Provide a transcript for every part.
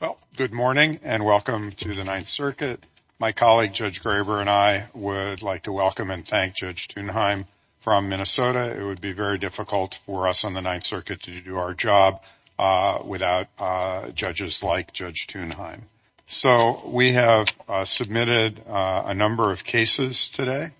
Well, good morning and welcome to the Ninth Circuit. My colleague Judge Graber and I would like to welcome and thank Judge Thunheim from Minnesota. It would be very difficult for us on the Ninth Circuit to do our job without judges like Judge Thunheim. So we have submitted a number of cases today.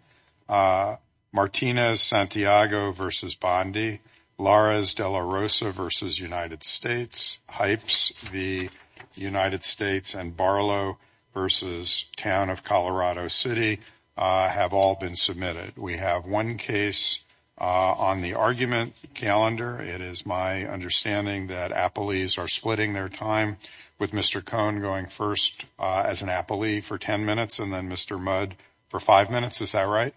Martinez-Santiago v. Bondi, Lara's-De La Rosa v. United States, Hypes v. United States, and Barlow v. Town of Colorado City have all been submitted. We have one case on the argument calendar. It is my understanding that Applees are splitting their time with Mr. Cohn going first as an Applee for ten minutes and then Mr. Mudd for five minutes. Is that right?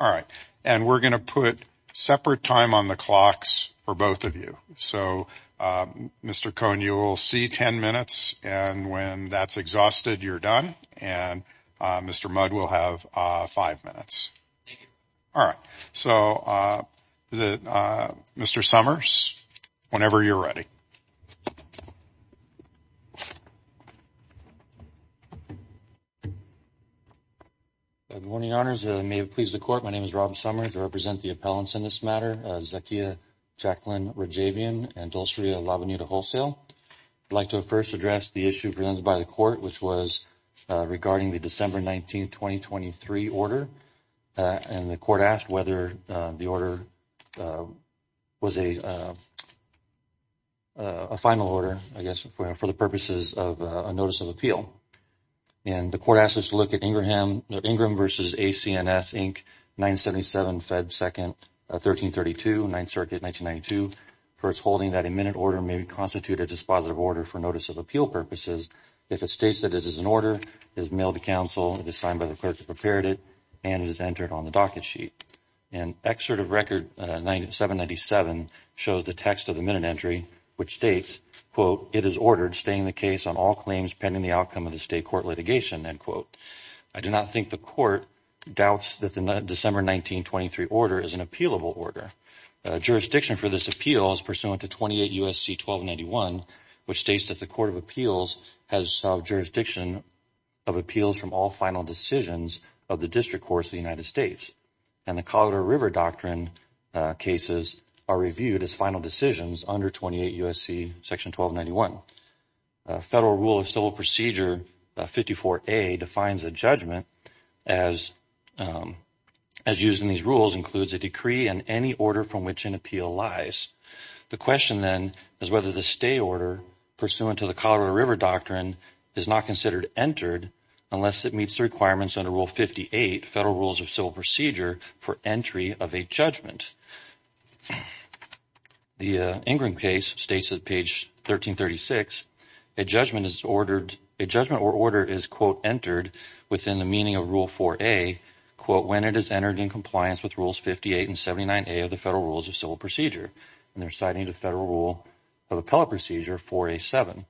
All right. And we are going to put separate time on the clocks for both of you. So Mr. Cohn, you will see ten minutes and when that is exhausted, you are done. And Mr. Mudd will have five minutes. All right. So Mr. Summers, whenever you are ready. Good morning, Your Honors. May it please the Court, my name is Rob Summers. I represent the appellants in this matter, Zakia Jacqueline Rajabian and Dulceria La Bonita-Holsail. I would like to first address the issue presented by the Court, which was regarding the December 19, 2023, order. And the Court asked whether the order was a final order, I guess, for the purposes of a Notice of Appeal. And the Court asked us to look at Ingram v. AC&S, Inc., 977, Fed. 2nd, 1332, 9th Circuit, 1992, first holding that a minute order may constitute a dispositive order for Notice of Appeal purposes if it states that it is an order, is mailed to counsel, it is signed by the clerk that prepared it, and it is entered on the docket sheet. An excerpt of Record 797 shows the text of the minute entry, which states, quote, it is ordered, staying the case on all claims pending the outcome of the State Court litigation, end quote. I do not think the Court doubts that the December 19, 2023 order is an appealable order. Jurisdiction for this appeal is pursuant to 28 U.S.C. 1291, which states that the Court of Appeals has jurisdiction of appeals from all final decisions of the District Courts of the United States. And the Colorado River Doctrine cases are reviewed as final decisions under 28 U.S.C. section 1291. Federal Rule of Civil Procedure 54A defines a judgment as used in these rules includes a decree and any order from which an appeal lies. The question then is whether the stay order pursuant to the Colorado River Doctrine is not considered entered unless it meets the requirements under Rule 58, Federal Rules of Civil Procedure, for entry of a judgment. The Ingram case states at page 1336, a judgment is ordered, a judgment or order is, quote, entered within the meaning of Rule 4A, quote, when it is entered in compliance with Rules 58 and 79A of the Federal Rules of Civil Procedure. And they're citing the Federal Rule of Appellate Procedure 4A-7.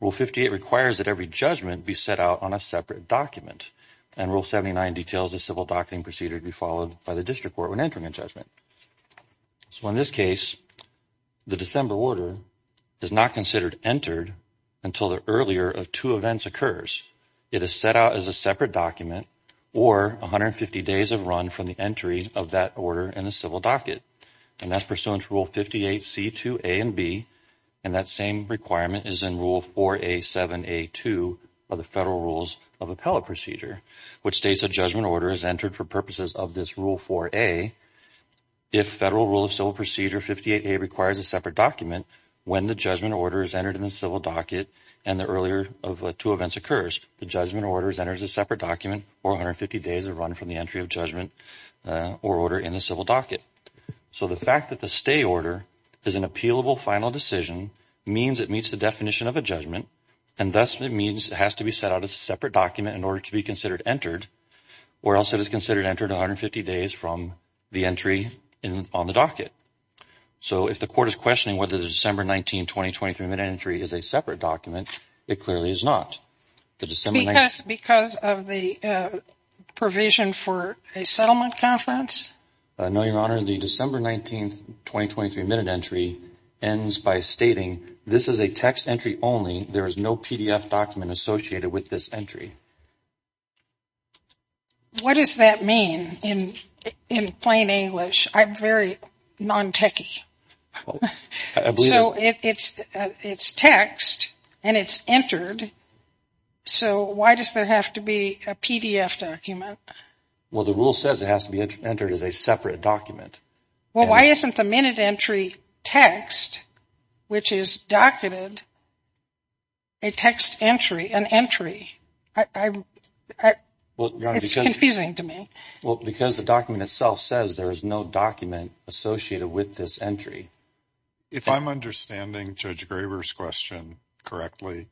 Rule 58 requires that every judgment be set out on a separate document. And Rule 79 details a civil docketing procedure to be followed by the District Court when entering a judgment. So in this case, the December order is not considered entered until the earlier of two events occurs. It is set out as a separate document or 150 days of run from the entry of that order in the civil docket. And that's pursuant to Rule 58C-2A and B. And that same requirement is in Rule 4A-7A-2 of the Federal Rules of Appellate Procedure, which states a judgment order is entered for purposes of this Rule 4A. If Federal Rule of Civil Procedure 58A requires a separate document, when the judgment order is entered in the civil docket and the earlier of two events occurs, the judgment order is entered as a separate document or 150 days of run from the entry of judgment or order in the civil docket. So the fact that the stay order is an appealable final decision means it meets the definition of a judgment and thus it means it has to be set out as a separate document in order to be considered entered or else it is considered entered 150 days from the entry on the docket. So if the Court is questioning whether the December 19, 2023 mid-entry is a separate document, it clearly is not. Because of the provision for a settlement conference? No, Your Honor, the December 19, 2023 mid-entry ends by stating this is a text entry only. There is no PDF document associated with this entry. What does that mean in plain English? I'm very non-techy. So it's text and it's entered, so why does there have to be a PDF document? Well, the Rule says it has to be entered as a separate document. Well, why isn't the mid-entry text, which is docketed, a text entry, an entry? It's confusing to me. Because the document itself says there is no document associated with this entry. If I'm understanding Judge Graber's question correctly,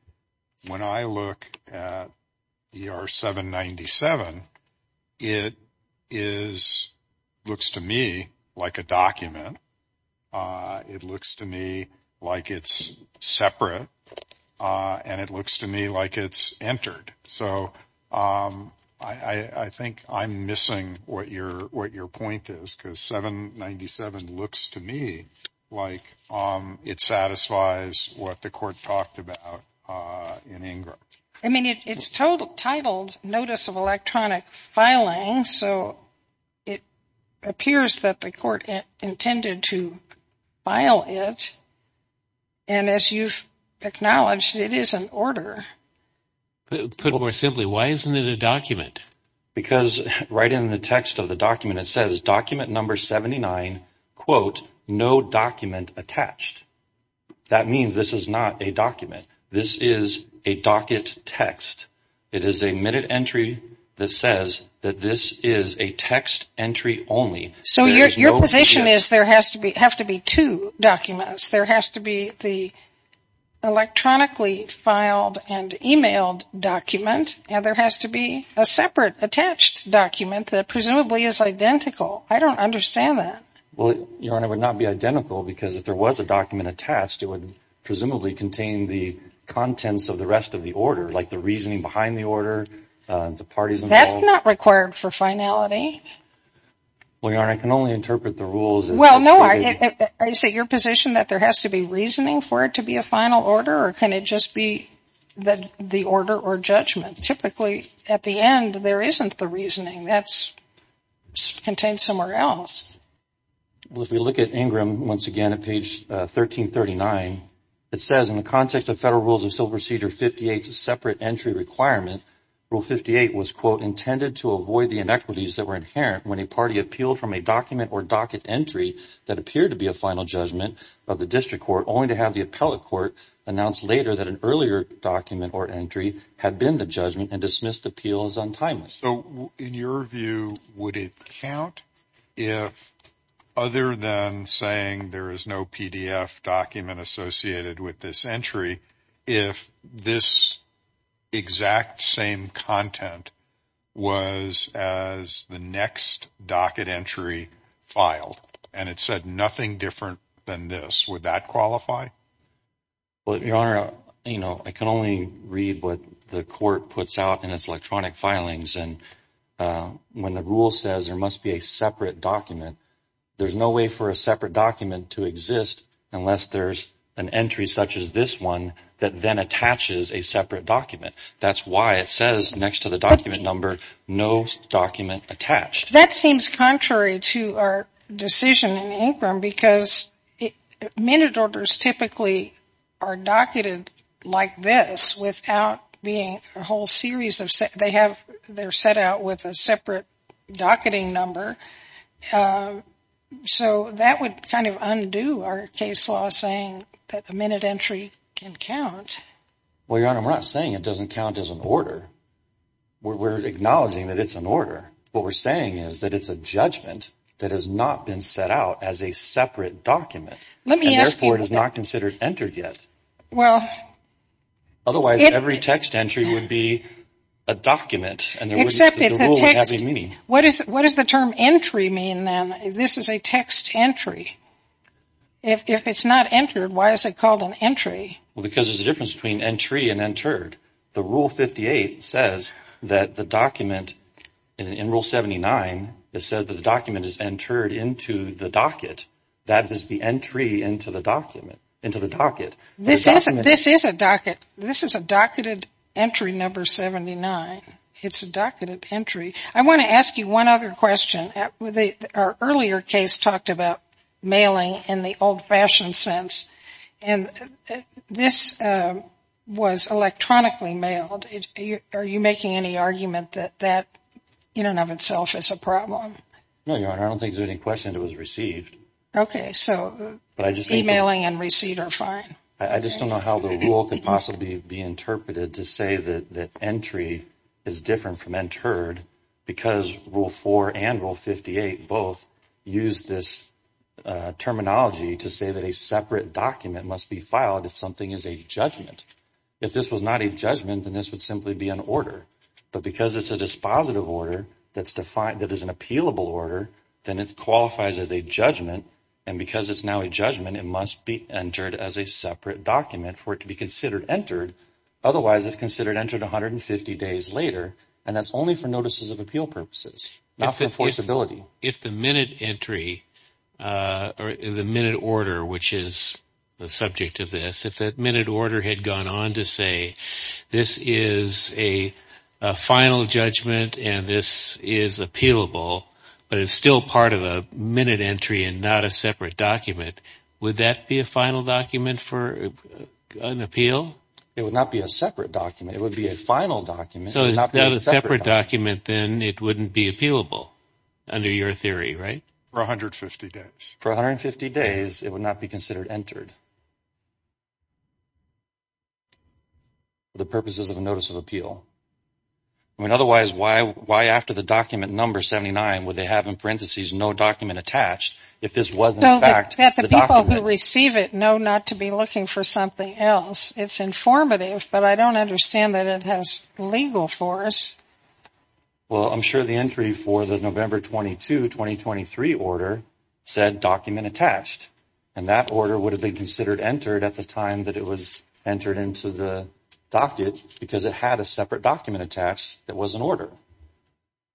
when I look at ER 797, it looks to me like a document. It looks to me like it's separate and it looks to me like it's entered. So I think I'm missing what your point is because 797 looks to me like it satisfies what the Court talked about in INGRA. I mean, it's titled Notice of Electronic Filing, so it appears that the Court intended to file it, and as you've acknowledged, it is an order. Put more simply, why isn't it a document? Because right in the text of the document, it says document number 79, quote, no document attached. That means this is not a document. This is a docket text. It is a mid-entry that says that this is a text entry only. So your position is there have to be two documents. There has to be the electronically filed and emailed document, and there has to be a separate attached document that presumably is identical. I don't understand that. Well, Your Honor, it would not be identical because if there was a document attached, it would presumably contain the contents of the rest of the order, like the reasoning behind the order, the parties involved. That's not required for finality. Well, Your Honor, I can only interpret the rules. Well, no. Is it your position that there has to be reasoning for it to be a final order, or can it just be the order or judgment? Typically, at the end, there isn't the reasoning. That's contained somewhere else. Well, if we look at Ingram, once again, at page 1339, it says, in the context of Federal Rules of Civil Procedure 58's separate entry requirement, Rule 58 was, quote, intended to avoid the inequities that were inherent when a party appealed from a document or docket entry that appeared to be a final judgment of the district court, only to have the appellate court announce later that an earlier document or entry had been the judgment and dismissed appeal as untimely. So, in your view, would it count if, other than saying there is no PDF document associated with this entry, if this exact same content was as the next docket entry filed, and it said nothing different than this, would that qualify? Well, Your And when the rule says there must be a separate document, there's no way for a separate document to exist unless there's an entry such as this one that then attaches a separate document. That's why it says, next to the document number, no document attached. That seems contrary to our decision in Ingram, because minute orders typically are docketed like this, without being a whole series of, they have, they're set out with a separate docketing number. So that would kind of undo our case law saying that a minute entry can count. Well, Your Honor, we're not saying it doesn't count as an order. We're acknowledging that it's an order. What we're saying is that it's a judgment that has not been set out as a separate document. And therefore, it is not considered entered yet. Otherwise, every text entry would be a document, and the rule wouldn't have any meaning. What does the term entry mean then? This is a text entry. If it's not entered, why is it called an entry? Well, because there's a difference between entry and entered. The Rule 58 says that the document, in Rule 79, it says that the document is entered into the docket. That is the entry into the docket. This is a docket. This is a docketed entry number 79. It's a docketed entry. I want to ask you one other question. Our earlier case talked about mailing in the old-fashioned sense, and this was electronically mailed. Are you making any argument that that in and of itself is a problem? No, Your Honor. I don't think there's any question it was received. Okay, so emailing and received are fine. I just don't know how the rule could possibly be interpreted to say that entry is different from entered because Rule 4 and Rule 58 both use this terminology to say that a separate document must be filed if something is a judgment. If this was not a judgment, then this would simply be an order. But because it's a dispositive order that is an appealable order, then it qualifies as a judgment, and because it's now a judgment, it must be entered as a separate document for it to be considered entered. Otherwise, it's considered entered 150 days later, and that's only for notices of appeal purposes, not for enforceability. If the minute entry or the minute order, which is the subject of this, had gone on to say this is a final judgment and this is appealable, but it's still part of a minute entry and not a separate document, would that be a final document for an appeal? It would not be a separate document. It would be a final document. So it's not a separate document, then it wouldn't be appealable under your theory, right? For 150 days. For 150 days, it would not be considered entered for the purposes of a notice of appeal. I mean, otherwise, why after the document number 79, would they have in parentheses, no document attached, if this wasn't a fact? So that the people who receive it know not to be looking for something else. It's informative, but I don't understand that it has legal for us. Well, I'm sure the entry for the November 22, 2023 order said document attached. And that order would have been considered entered at the time that it was entered into the docket, because it had a separate document attached that was an order.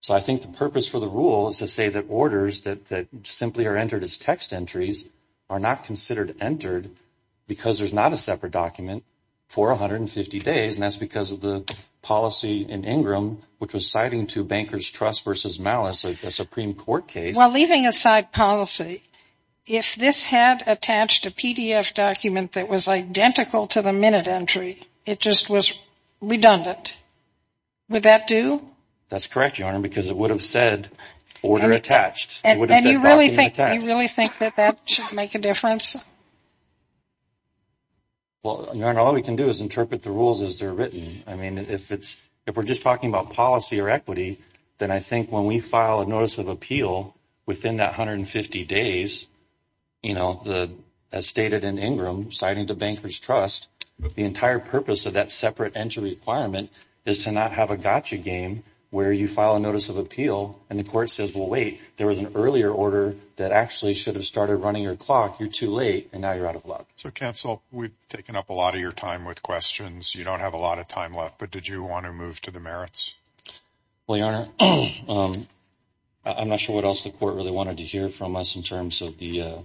So I think the purpose for the rule is to say that orders that simply are entered as text entries are not considered entered because there's not a separate document for 150 days. And that's because of the policy in Ingram, which was citing to Bankers Trust versus Malice, a Supreme Court case. Well, leaving aside policy, if this had attached a PDF document that was identical to the minute entry, it just was redundant. Would that do? That's correct, Your Honor, because it would have said order attached. And you really think that that should make a difference? Well, Your Honor, all we can do is interpret the rules as they're written. I mean, if it's, if we're just talking about policy or equity, then I think when we file a notice of appeal within that 150 days, you know, as stated in Ingram, citing to Bankers Trust, the entire purpose of that separate entry requirement is to not have a gotcha game where you file a notice of appeal and the court says, well, wait, there was an earlier order that actually should have started running your clock. You're too late. And now you're out of luck. So counsel, we've taken up a lot of your time with questions. You don't have a lot of time left, but did you want to move to the merits? Well, Your Honor, I'm not sure what else the court really wanted to hear from us in terms of the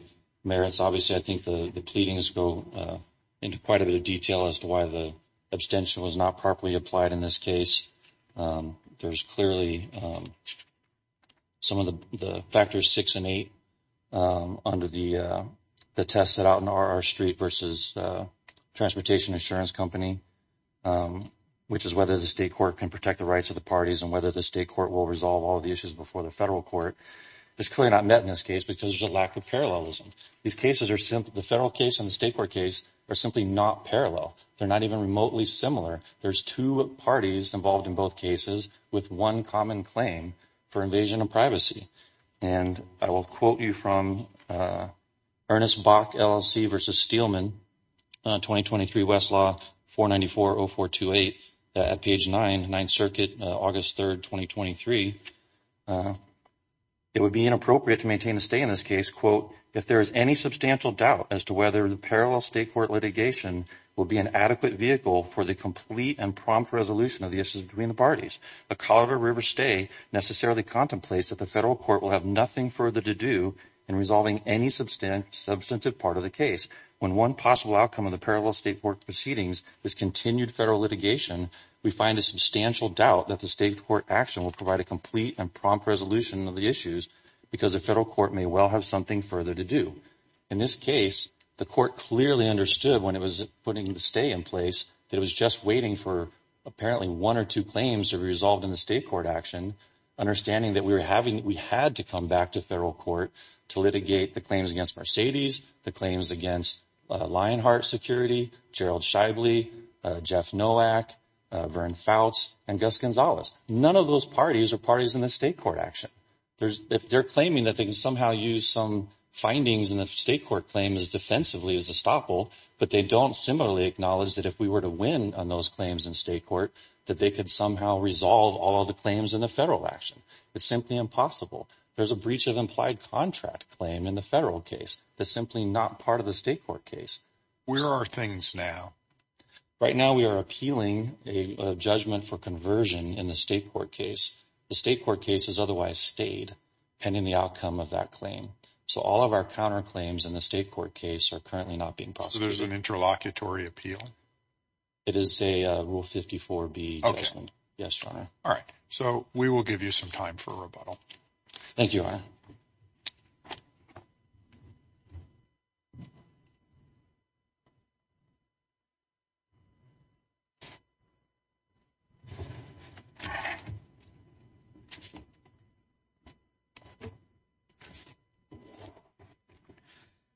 merits. Obviously, I think the pleadings go into quite a bit of detail as to why the abstention was not properly applied in this case. There's clearly some of the factors six and eight under the test set out in R.R. Street versus Transportation Insurance Company, which is whether the state court can protect the rights of the parties and whether the state court will resolve all of the issues before the federal court. It's clearly not met in this case because there's a lack of parallelism. These cases are simple. The federal case and the state court case are simply not parallel. They're not even remotely similar. There's two parties involved in both cases with one common claim for invasion of privacy. And I will quote you from Ernest Bach LLC versus Steelman, 2023 Westlaw 4940428 at page nine, Ninth Circuit, August 3rd, 2023. It would be inappropriate to maintain a stay in this case, quote, if there is any substantial doubt as to whether the parallel state court litigation will be an adequate vehicle for the complete and prompt resolution of the issues between the parties. A Colorado River stay necessarily contemplates that the federal court will have nothing further to do in resolving any substantive part of the case. When one possible outcome of the parallel state court proceedings is continued federal litigation, we find a substantial doubt that the state court action will provide a complete and prompt resolution of the issues because the federal court may well have something further to do. In this case, the court clearly understood when it was putting the stay in place that it was just waiting for apparently one or two claims to be resolved in the state court action, understanding that we were having, we had to come back to federal court to litigate the claims against Mercedes, the claims against Lionheart Security, Gerald Shibley, Jeff Nowak, Vern Fouts, and Gus Gonzalez. None of those parties are parties in the state court action. If they're claiming that they can somehow use some findings in the state court claim as defensively as a stopple, but they don't similarly acknowledge that if we were to win on those claims in state court, that they could somehow resolve all the claims in the federal action. It's simply impossible. There's a breach of implied contract claim in the federal case that's simply not part of the state court case. Where are things now? Right now we are appealing a judgment for conversion in the state court case. The state court case has otherwise stayed pending the outcome of that claim. So all of our counterclaims in the state court case are currently not being prosecuted. So there's an interlocutory appeal? It is a Rule 54B judgment. Okay. Yes, Your Honor. All right. So we will give you some time for rebuttal. Thank you, Your Honor.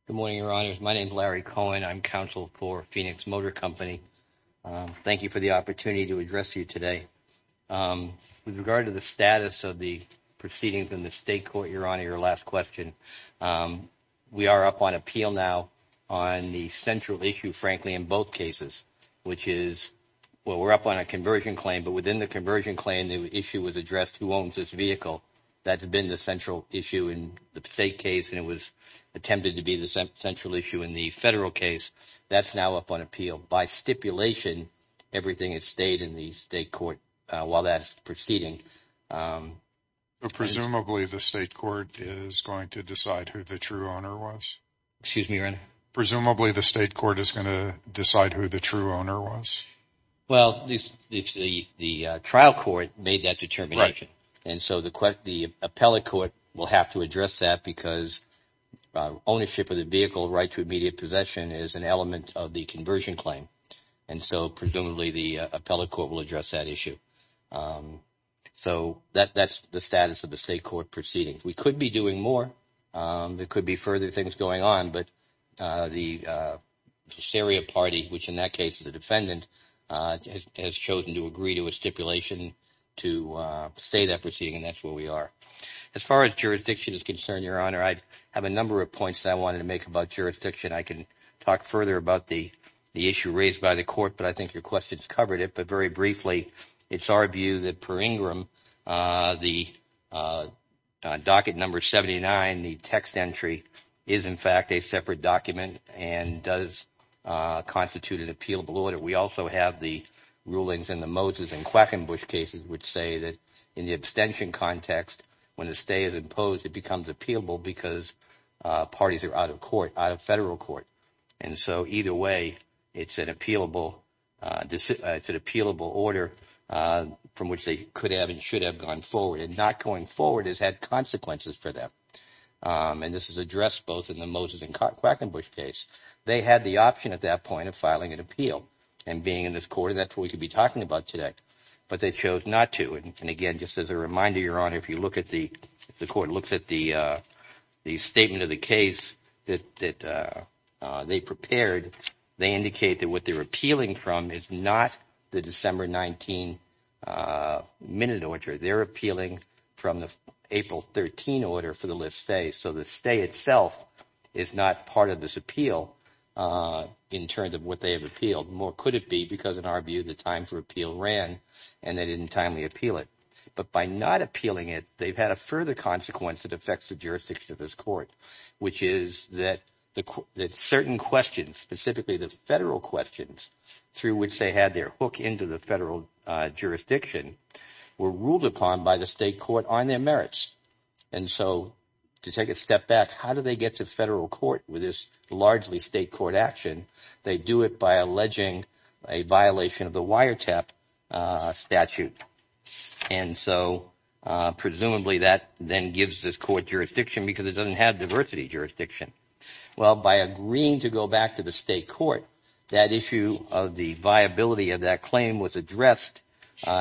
Good morning, Your Honor. My name is Larry Cohen. I'm counsel for Phoenix Motor Company. Thank you for the opportunity to address you today. With regard to the status of the proceedings in the state court, Your Honor, your last question. We are up on appeal now on the central issue, frankly, in both cases, which is, well, we're up on a conversion claim, but within the conversion claim, the issue is, is it a conversion claim? If the issue was addressed, who owns this vehicle? That's been the central issue in the state case, and it was attempted to be the central issue in the federal case. That's now up on appeal. By stipulation, everything has stayed in the state court while that's proceeding. Presumably the state court is going to decide who the true owner was? Excuse me, Your Honor? Presumably the state court is going to decide who the true owner was? Well, the trial court made that determination. And so the appellate court will have to address that because ownership of the vehicle, right to immediate possession, is an element of the conversion claim. And so presumably the appellate court will address that issue. So that's the status of the state court proceedings. We could be doing more. There could be further things going on. But the Syria party, which in that case is a defendant, has chosen to agree to a stipulation to say that proceeding. And that's where we are. As far as jurisdiction is concerned, Your Honor, I have a number of points that I wanted to make about jurisdiction. I can talk further about the issue raised by the court, but I think your questions covered it. But very briefly, it's our view that per Ingram, the docket number 79, the text entry, is in fact a separate document and does constitute an appealable order. We also have the rulings in the Moses and Quackenbush cases which say that in the abstention context, when a stay is imposed, it becomes appealable because parties are out of court, out of federal court. And so either way, it's an appealable order from which they could have and should have gone forward and not going forward has had consequences for them. And this is addressed both in the Moses and Quackenbush case. They had the option at that point of filing an appeal and being in this court. That's what we could be talking about today. But they chose not to. And again, just as a reminder, Your Honor, if you look at the if the court looks at the the statement of the case that they prepared, they indicate that what they're appealing from is not the December 19 minute order. They're appealing from the April 13 order for the lift stay. So the stay itself is not part of this appeal in terms of what they have appealed. More could it be because in our view, the time for appeal ran and they didn't timely appeal it. But by not appealing it, they've had a further consequence that affects the jurisdiction of this court, which is that the certain questions, specifically the federal questions through which they had their hook into the federal jurisdiction were ruled upon by the state court on their merits. And so to take a step back, how do they get to federal court with this largely state court action? They do it by alleging a violation of the wiretap statute. And so presumably that then gives this court jurisdiction because it doesn't have diversity jurisdiction. Well, by agreeing to go back to the state court, that issue of the viability of that claim was addressed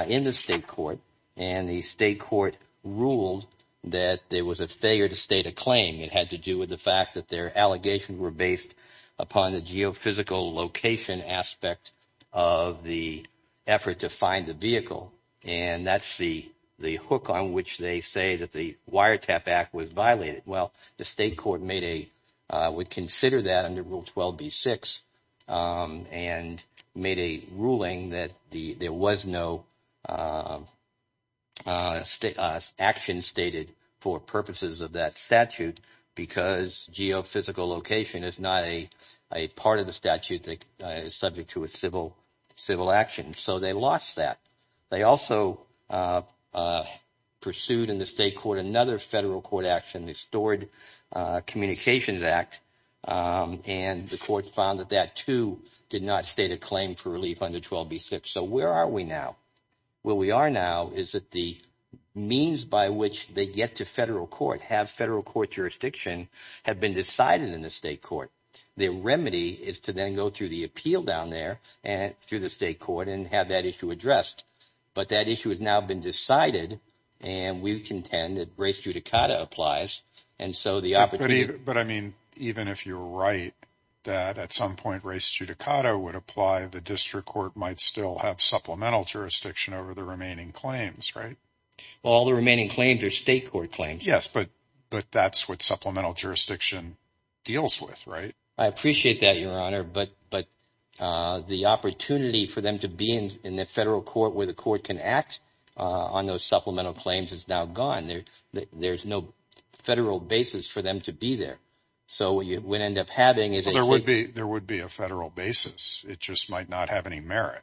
in the state court and the state court ruled that there was a failure to state a claim. It had to do with the fact that their allegations were based upon the geophysical location aspect of the effort to find the vehicle. And that's the the hook on which they say that the wiretap act was violated. Well, the state court made a would consider that under Rule 12B-6 and made a ruling that there was no state action stated for purposes of that statute because geophysical location is not a part of the statute that is subject to a civil civil action. So they lost that. They also pursued in the state court another federal court action, the Stored Communications Act, and the court found that that, too, did not state a claim for relief under 12B-6. So where are we now? Well, we are now is that the means by which they get to federal court have federal court jurisdiction have been decided in the state court. The remedy is to then go through the appeal down there and through the state court and have that issue addressed. But that issue has now been decided and we contend that race judicata applies. And so the opportunity. But I mean, even if you're right, that at some point, race judicata would apply. The district court might still have supplemental jurisdiction over the remaining claims. Right. All the remaining claims are state court claims. Yes. But but that's what supplemental jurisdiction deals with. Right. I appreciate that, Your Honor. But but the opportunity for them to be in the federal court where the court can act on those supplemental claims is now gone. There there's no federal basis for them to be there. So you would end up having it. There would be there would be a federal basis. It just might not have any merit.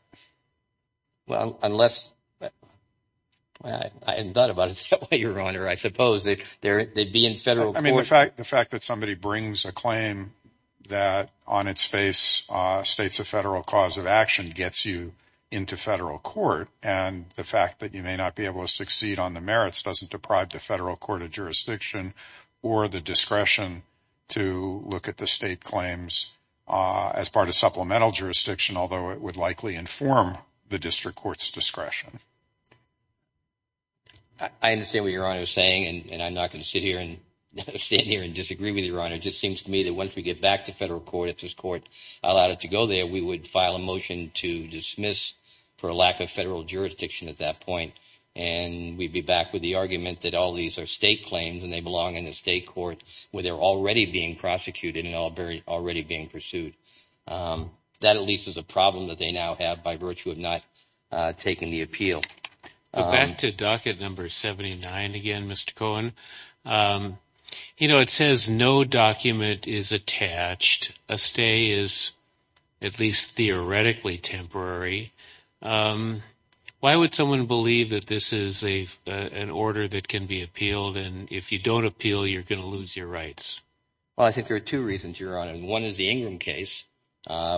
Well, unless I hadn't thought about it that way, Your Honor, I suppose that there they'd be in federal court. I mean, the fact the fact that somebody brings a claim that on its face states a federal cause of action gets you into federal court. And the fact that you may not be able to succeed on the merits doesn't deprive the federal court of jurisdiction or the discretion to look at the state claims as part of supplemental jurisdiction, although it would likely inform the district court's discretion. I understand what you're saying, and I'm not going to sit here and sit here and disagree with your honor. It just seems to me that once we get back to federal court, if this court allowed it to go there, we would file a motion to dismiss for a lack of federal jurisdiction at that point. And we'd be back with the argument that all these are state claims and they belong in the state court where they're already being prosecuted and already being pursued. That at least is a problem that they now have by virtue of not taking the appeal. Back to docket number 79 again, Mr. Cohen, you know, it says no document is attached. A stay is at least theoretically temporary. Why would someone believe that this is a an order that can be appealed? And if you don't appeal, you're going to lose your rights? Well, I think there are two reasons you're on. And one is the Ingram case,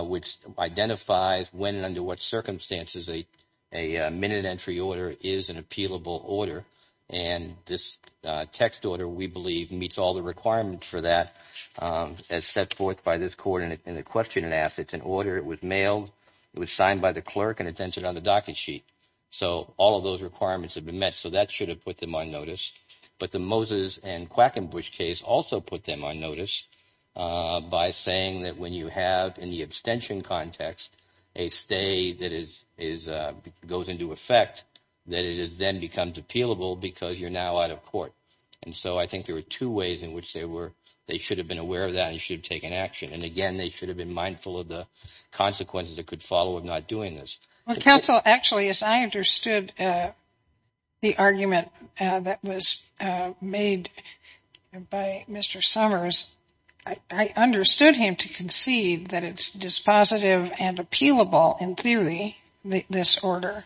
which identifies when and under what circumstances a a minute entry order is an appealable order. And this text order, we believe, meets all the requirements for that as set forth by this court in the question and ask it's an order. It was mailed. It was signed by the clerk and it's entered on the docket sheet. So all of those requirements have been met. So that should have put them on notice. But the Moses and Quackenbush case also put them on notice by saying that when you have in the abstention context, a stay that is is goes into effect, that it is then becomes appealable because you're now out of court. And so I think there are two ways in which they were. They should have been aware of that and should have taken action. And again, they should have been mindful of the consequences that could follow of not doing this. Well, counsel, actually, as I understood the argument that was made by Mr. Summers, I understood him to concede that it's dispositive and appealable in theory, this order,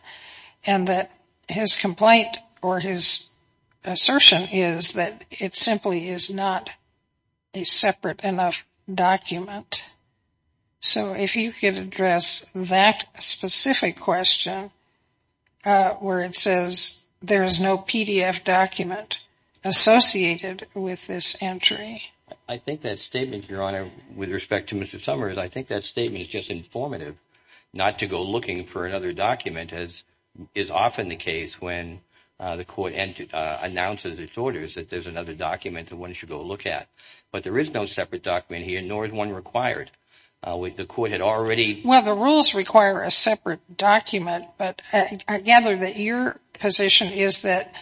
and that his complaint or his assertion is that it simply is not a separate enough document. So if you could address that specific question where it says there is no PDF document associated with this entry. I think that statement, Your Honor, with respect to Mr. Summers, I think that statement is just informative not to go looking for another document, as is often the case when the court announces its orders that there's another document that one should go look at. But there is no separate document here, nor is one required. With the court had already. Well, the rules require a separate document. But I gather that your position is that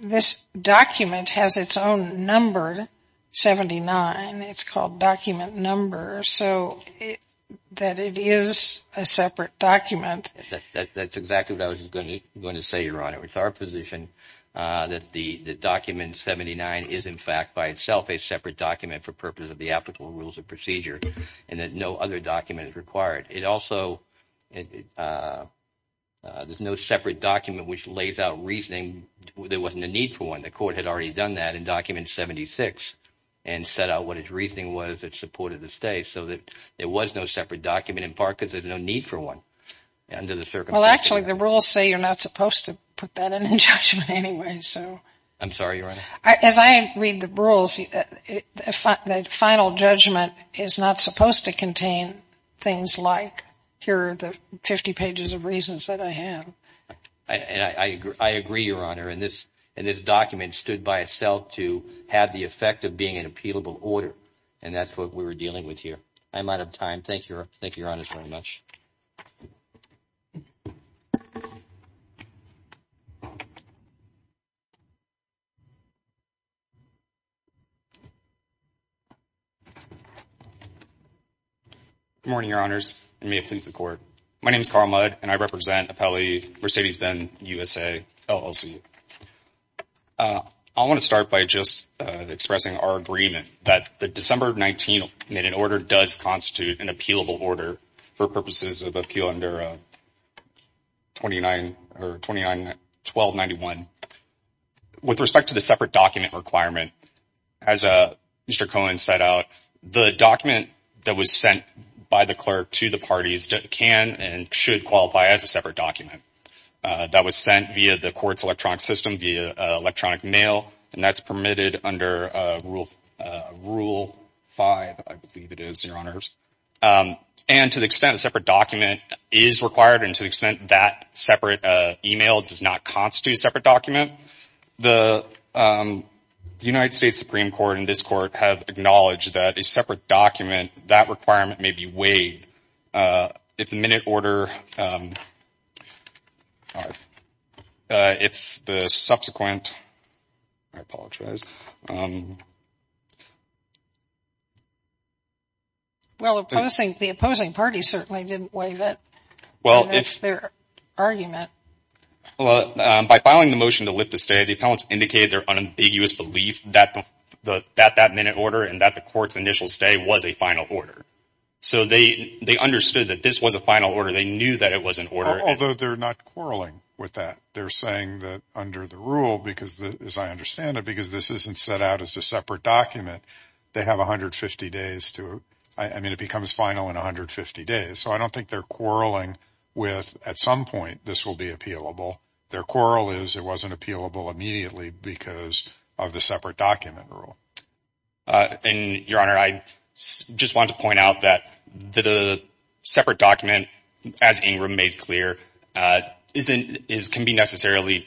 this document has its own number. Seventy nine. It's called document number. So that it is a separate document. That's exactly what I was going to say, Your Honor. It's our position that the document 79 is, in fact, by itself a separate document for purpose of the applicable rules of procedure and that no other document is required. It also – there's no separate document which lays out reasoning. There wasn't a need for one. The court had already done that in document 76 and set out what its reasoning was that supported the stay so that there was no separate document in part because there's no need for one under the circumstances. Well, actually, the rules say you're not supposed to put that in judgment anyway. I'm sorry, Your Honor. As I read the rules, the final judgment is not supposed to contain things like here are the 50 pages of reasons that I have. And I agree, Your Honor. And this document stood by itself to have the effect of being an appealable order. And that's what we were dealing with here. I'm out of time. Thank you, Your Honor, very much. Good morning, Your Honors, and may it please the Court. My name is Carl Mudd, and I represent Apelli Mercedes-Benz USA LLC. I want to start by just expressing our agreement that the December 19th minute order does constitute an appealable order for purposes of appeal under 29 – or 29-1291. With respect to the separate document requirement, as Mr. Cohen set out, the document that was sent by the clerk to the parties can and should qualify as a separate document. That was sent via the Court's electronic system, via electronic mail, and that's permitted under Rule 5, I believe it is, Your Honors. And to the extent a separate document is required and to the extent that separate email does not constitute a separate document, the United States Supreme Court and this Court have acknowledged that a separate document, that requirement may be weighed. If the minute order – if the subsequent – I apologize. Well, the opposing party certainly didn't waive it, and that's their argument. Well, by filing the motion to lift the stay, the appellants indicated their unambiguous belief that that minute order and that the Court's initial stay was a final order. So they understood that this was a final order. They knew that it was an order. Although they're not quarreling with that. They're saying that under the rule, because as I understand it, because this isn't set out as a separate document, they have 150 days to – I mean, it becomes final in 150 days. So I don't think they're quarreling with at some point this will be appealable. Their quarrel is it wasn't appealable immediately because of the separate document rule. And, Your Honor, I just want to point out that the separate document, as Ingram made clear, can be necessarily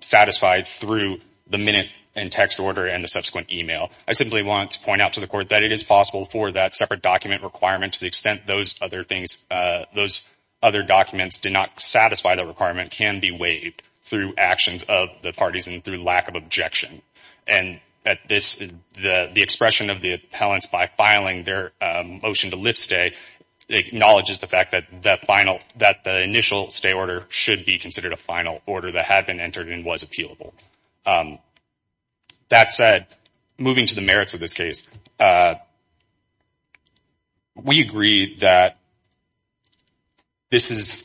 satisfied through the minute and text order and the subsequent email. I simply want to point out to the Court that it is possible for that separate document requirement, to the extent those other things – those other documents did not satisfy the requirement, can be waived through actions of the parties and through lack of objection. And the expression of the appellants, by filing their motion to lift stay, acknowledges the fact that the initial stay order should be considered a final order that had been entered and was appealable. That said, moving to the merits of this case, we agree that this is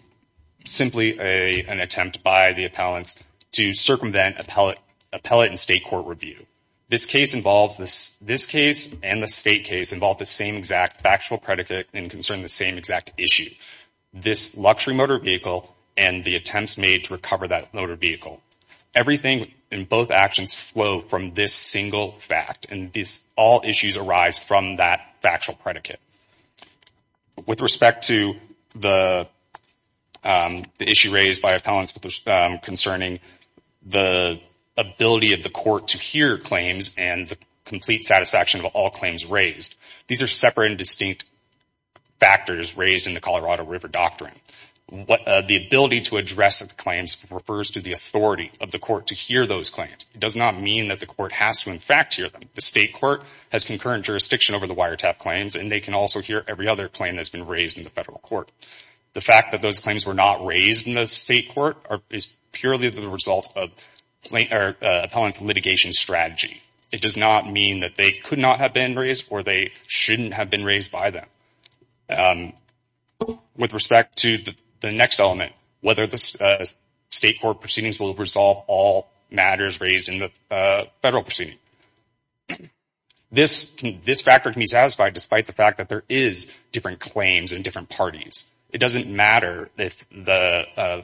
simply an attempt by the appellants to circumvent appellate and state court review. This case and the state case involve the same exact factual predicate and concern the same exact issue. This luxury motor vehicle and the attempts made to recover that motor vehicle. Everything in both actions flow from this single fact. And all issues arise from that factual predicate. With respect to the issue raised by appellants concerning the ability of the court to hear claims and the complete satisfaction of all claims raised, these are separate and distinct factors raised in the Colorado River Doctrine. The ability to address the claims refers to the authority of the court to hear those claims. It does not mean that the court has to, in fact, hear them. The state court has concurrent jurisdiction over the wiretap claims, and they can also hear every other claim that's been raised in the federal court. The fact that those claims were not raised in the state court is purely the result of appellant's litigation strategy. It does not mean that they could not have been raised or they shouldn't have been raised by them. With respect to the next element, whether the state court proceedings will resolve all matters raised in the federal proceeding. This factor can be satisfied despite the fact that there is different claims in different parties. It doesn't matter if the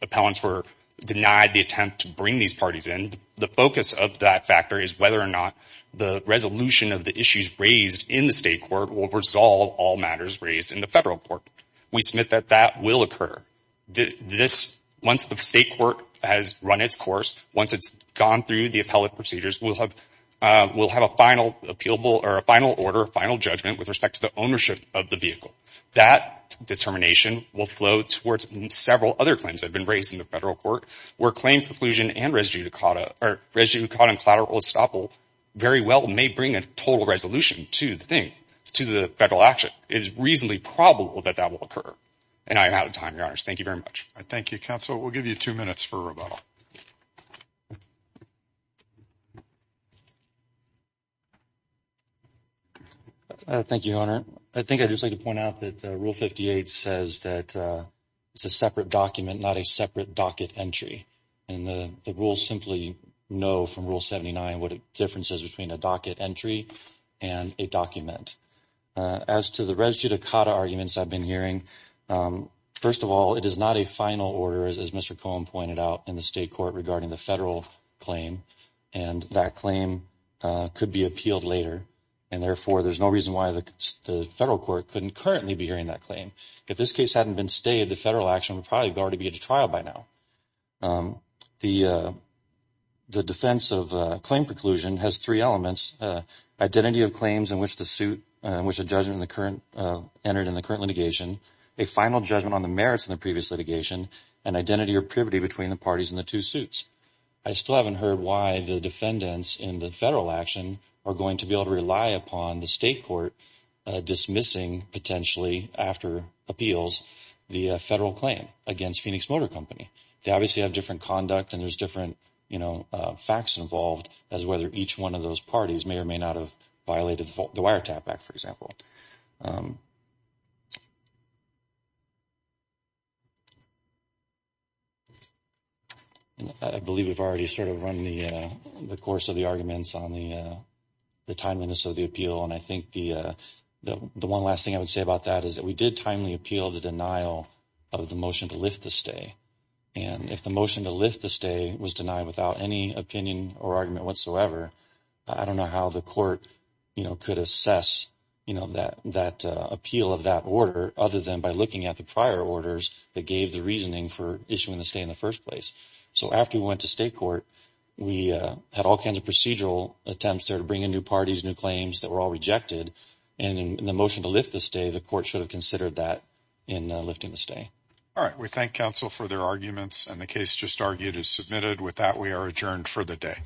appellants were denied the attempt to bring these parties in. The focus of that factor is whether or not the resolution of the issues raised in the state court will resolve all matters raised in the federal court. We submit that that will occur. Once the state court has run its course, once it's gone through the appellate procedures, we'll have a final order, a final judgment with respect to the ownership of the vehicle. That determination will flow towards several other claims that have been raised in the federal court where claim preclusion and residue of caught in collateral estoppel very well may bring a total resolution to the thing, to the federal action. It is reasonably probable that that will occur. And I am out of time, Your Honors. Thank you very much. Thank you, Counsel. We'll give you two minutes for rebuttal. Thank you, Your Honor. I think I'd just like to point out that Rule 58 says that it's a separate document, not a separate docket entry. And the rules simply know from Rule 79 what a difference is between a docket entry and a document. As to the residue of caught arguments I've been hearing, first of all, it is not a final order, as Mr. Cohen pointed out, in the state court regarding the federal claim. And that claim could be appealed later. And, therefore, there's no reason why the federal court couldn't currently be hearing that claim. If this case hadn't been stayed, the federal action would probably already be at a trial by now. The defense of claim preclusion has three elements, identity of claims in which the judgment entered in the current litigation, a final judgment on the merits of the previous litigation, and identity or privity between the parties in the two suits. I still haven't heard why the defendants in the federal action are going to be able to rely upon the state court dismissing, potentially after appeals, the federal claim against Phoenix Motor Company. They obviously have different conduct and there's different, you know, facts involved as whether each one of those parties may or may not have violated the Wiretap Act, for example. I believe we've already sort of run the course of the arguments on the timeliness of the appeal. And I think the one last thing I would say about that is that we did timely appeal the denial of the motion to lift the stay. And if the motion to lift the stay was denied without any opinion or argument whatsoever, I don't know how the court, you know, could assess, you know, that appeal of that order, other than by looking at the prior orders that gave the reasoning for issuing the stay in the first place. So after we went to state court, we had all kinds of procedural attempts there to bring in new parties, new claims that were all rejected. And in the motion to lift the stay, the court should have considered that in lifting the stay. All right. We thank counsel for their arguments and the case just argued is submitted. With that, we are adjourned for the day.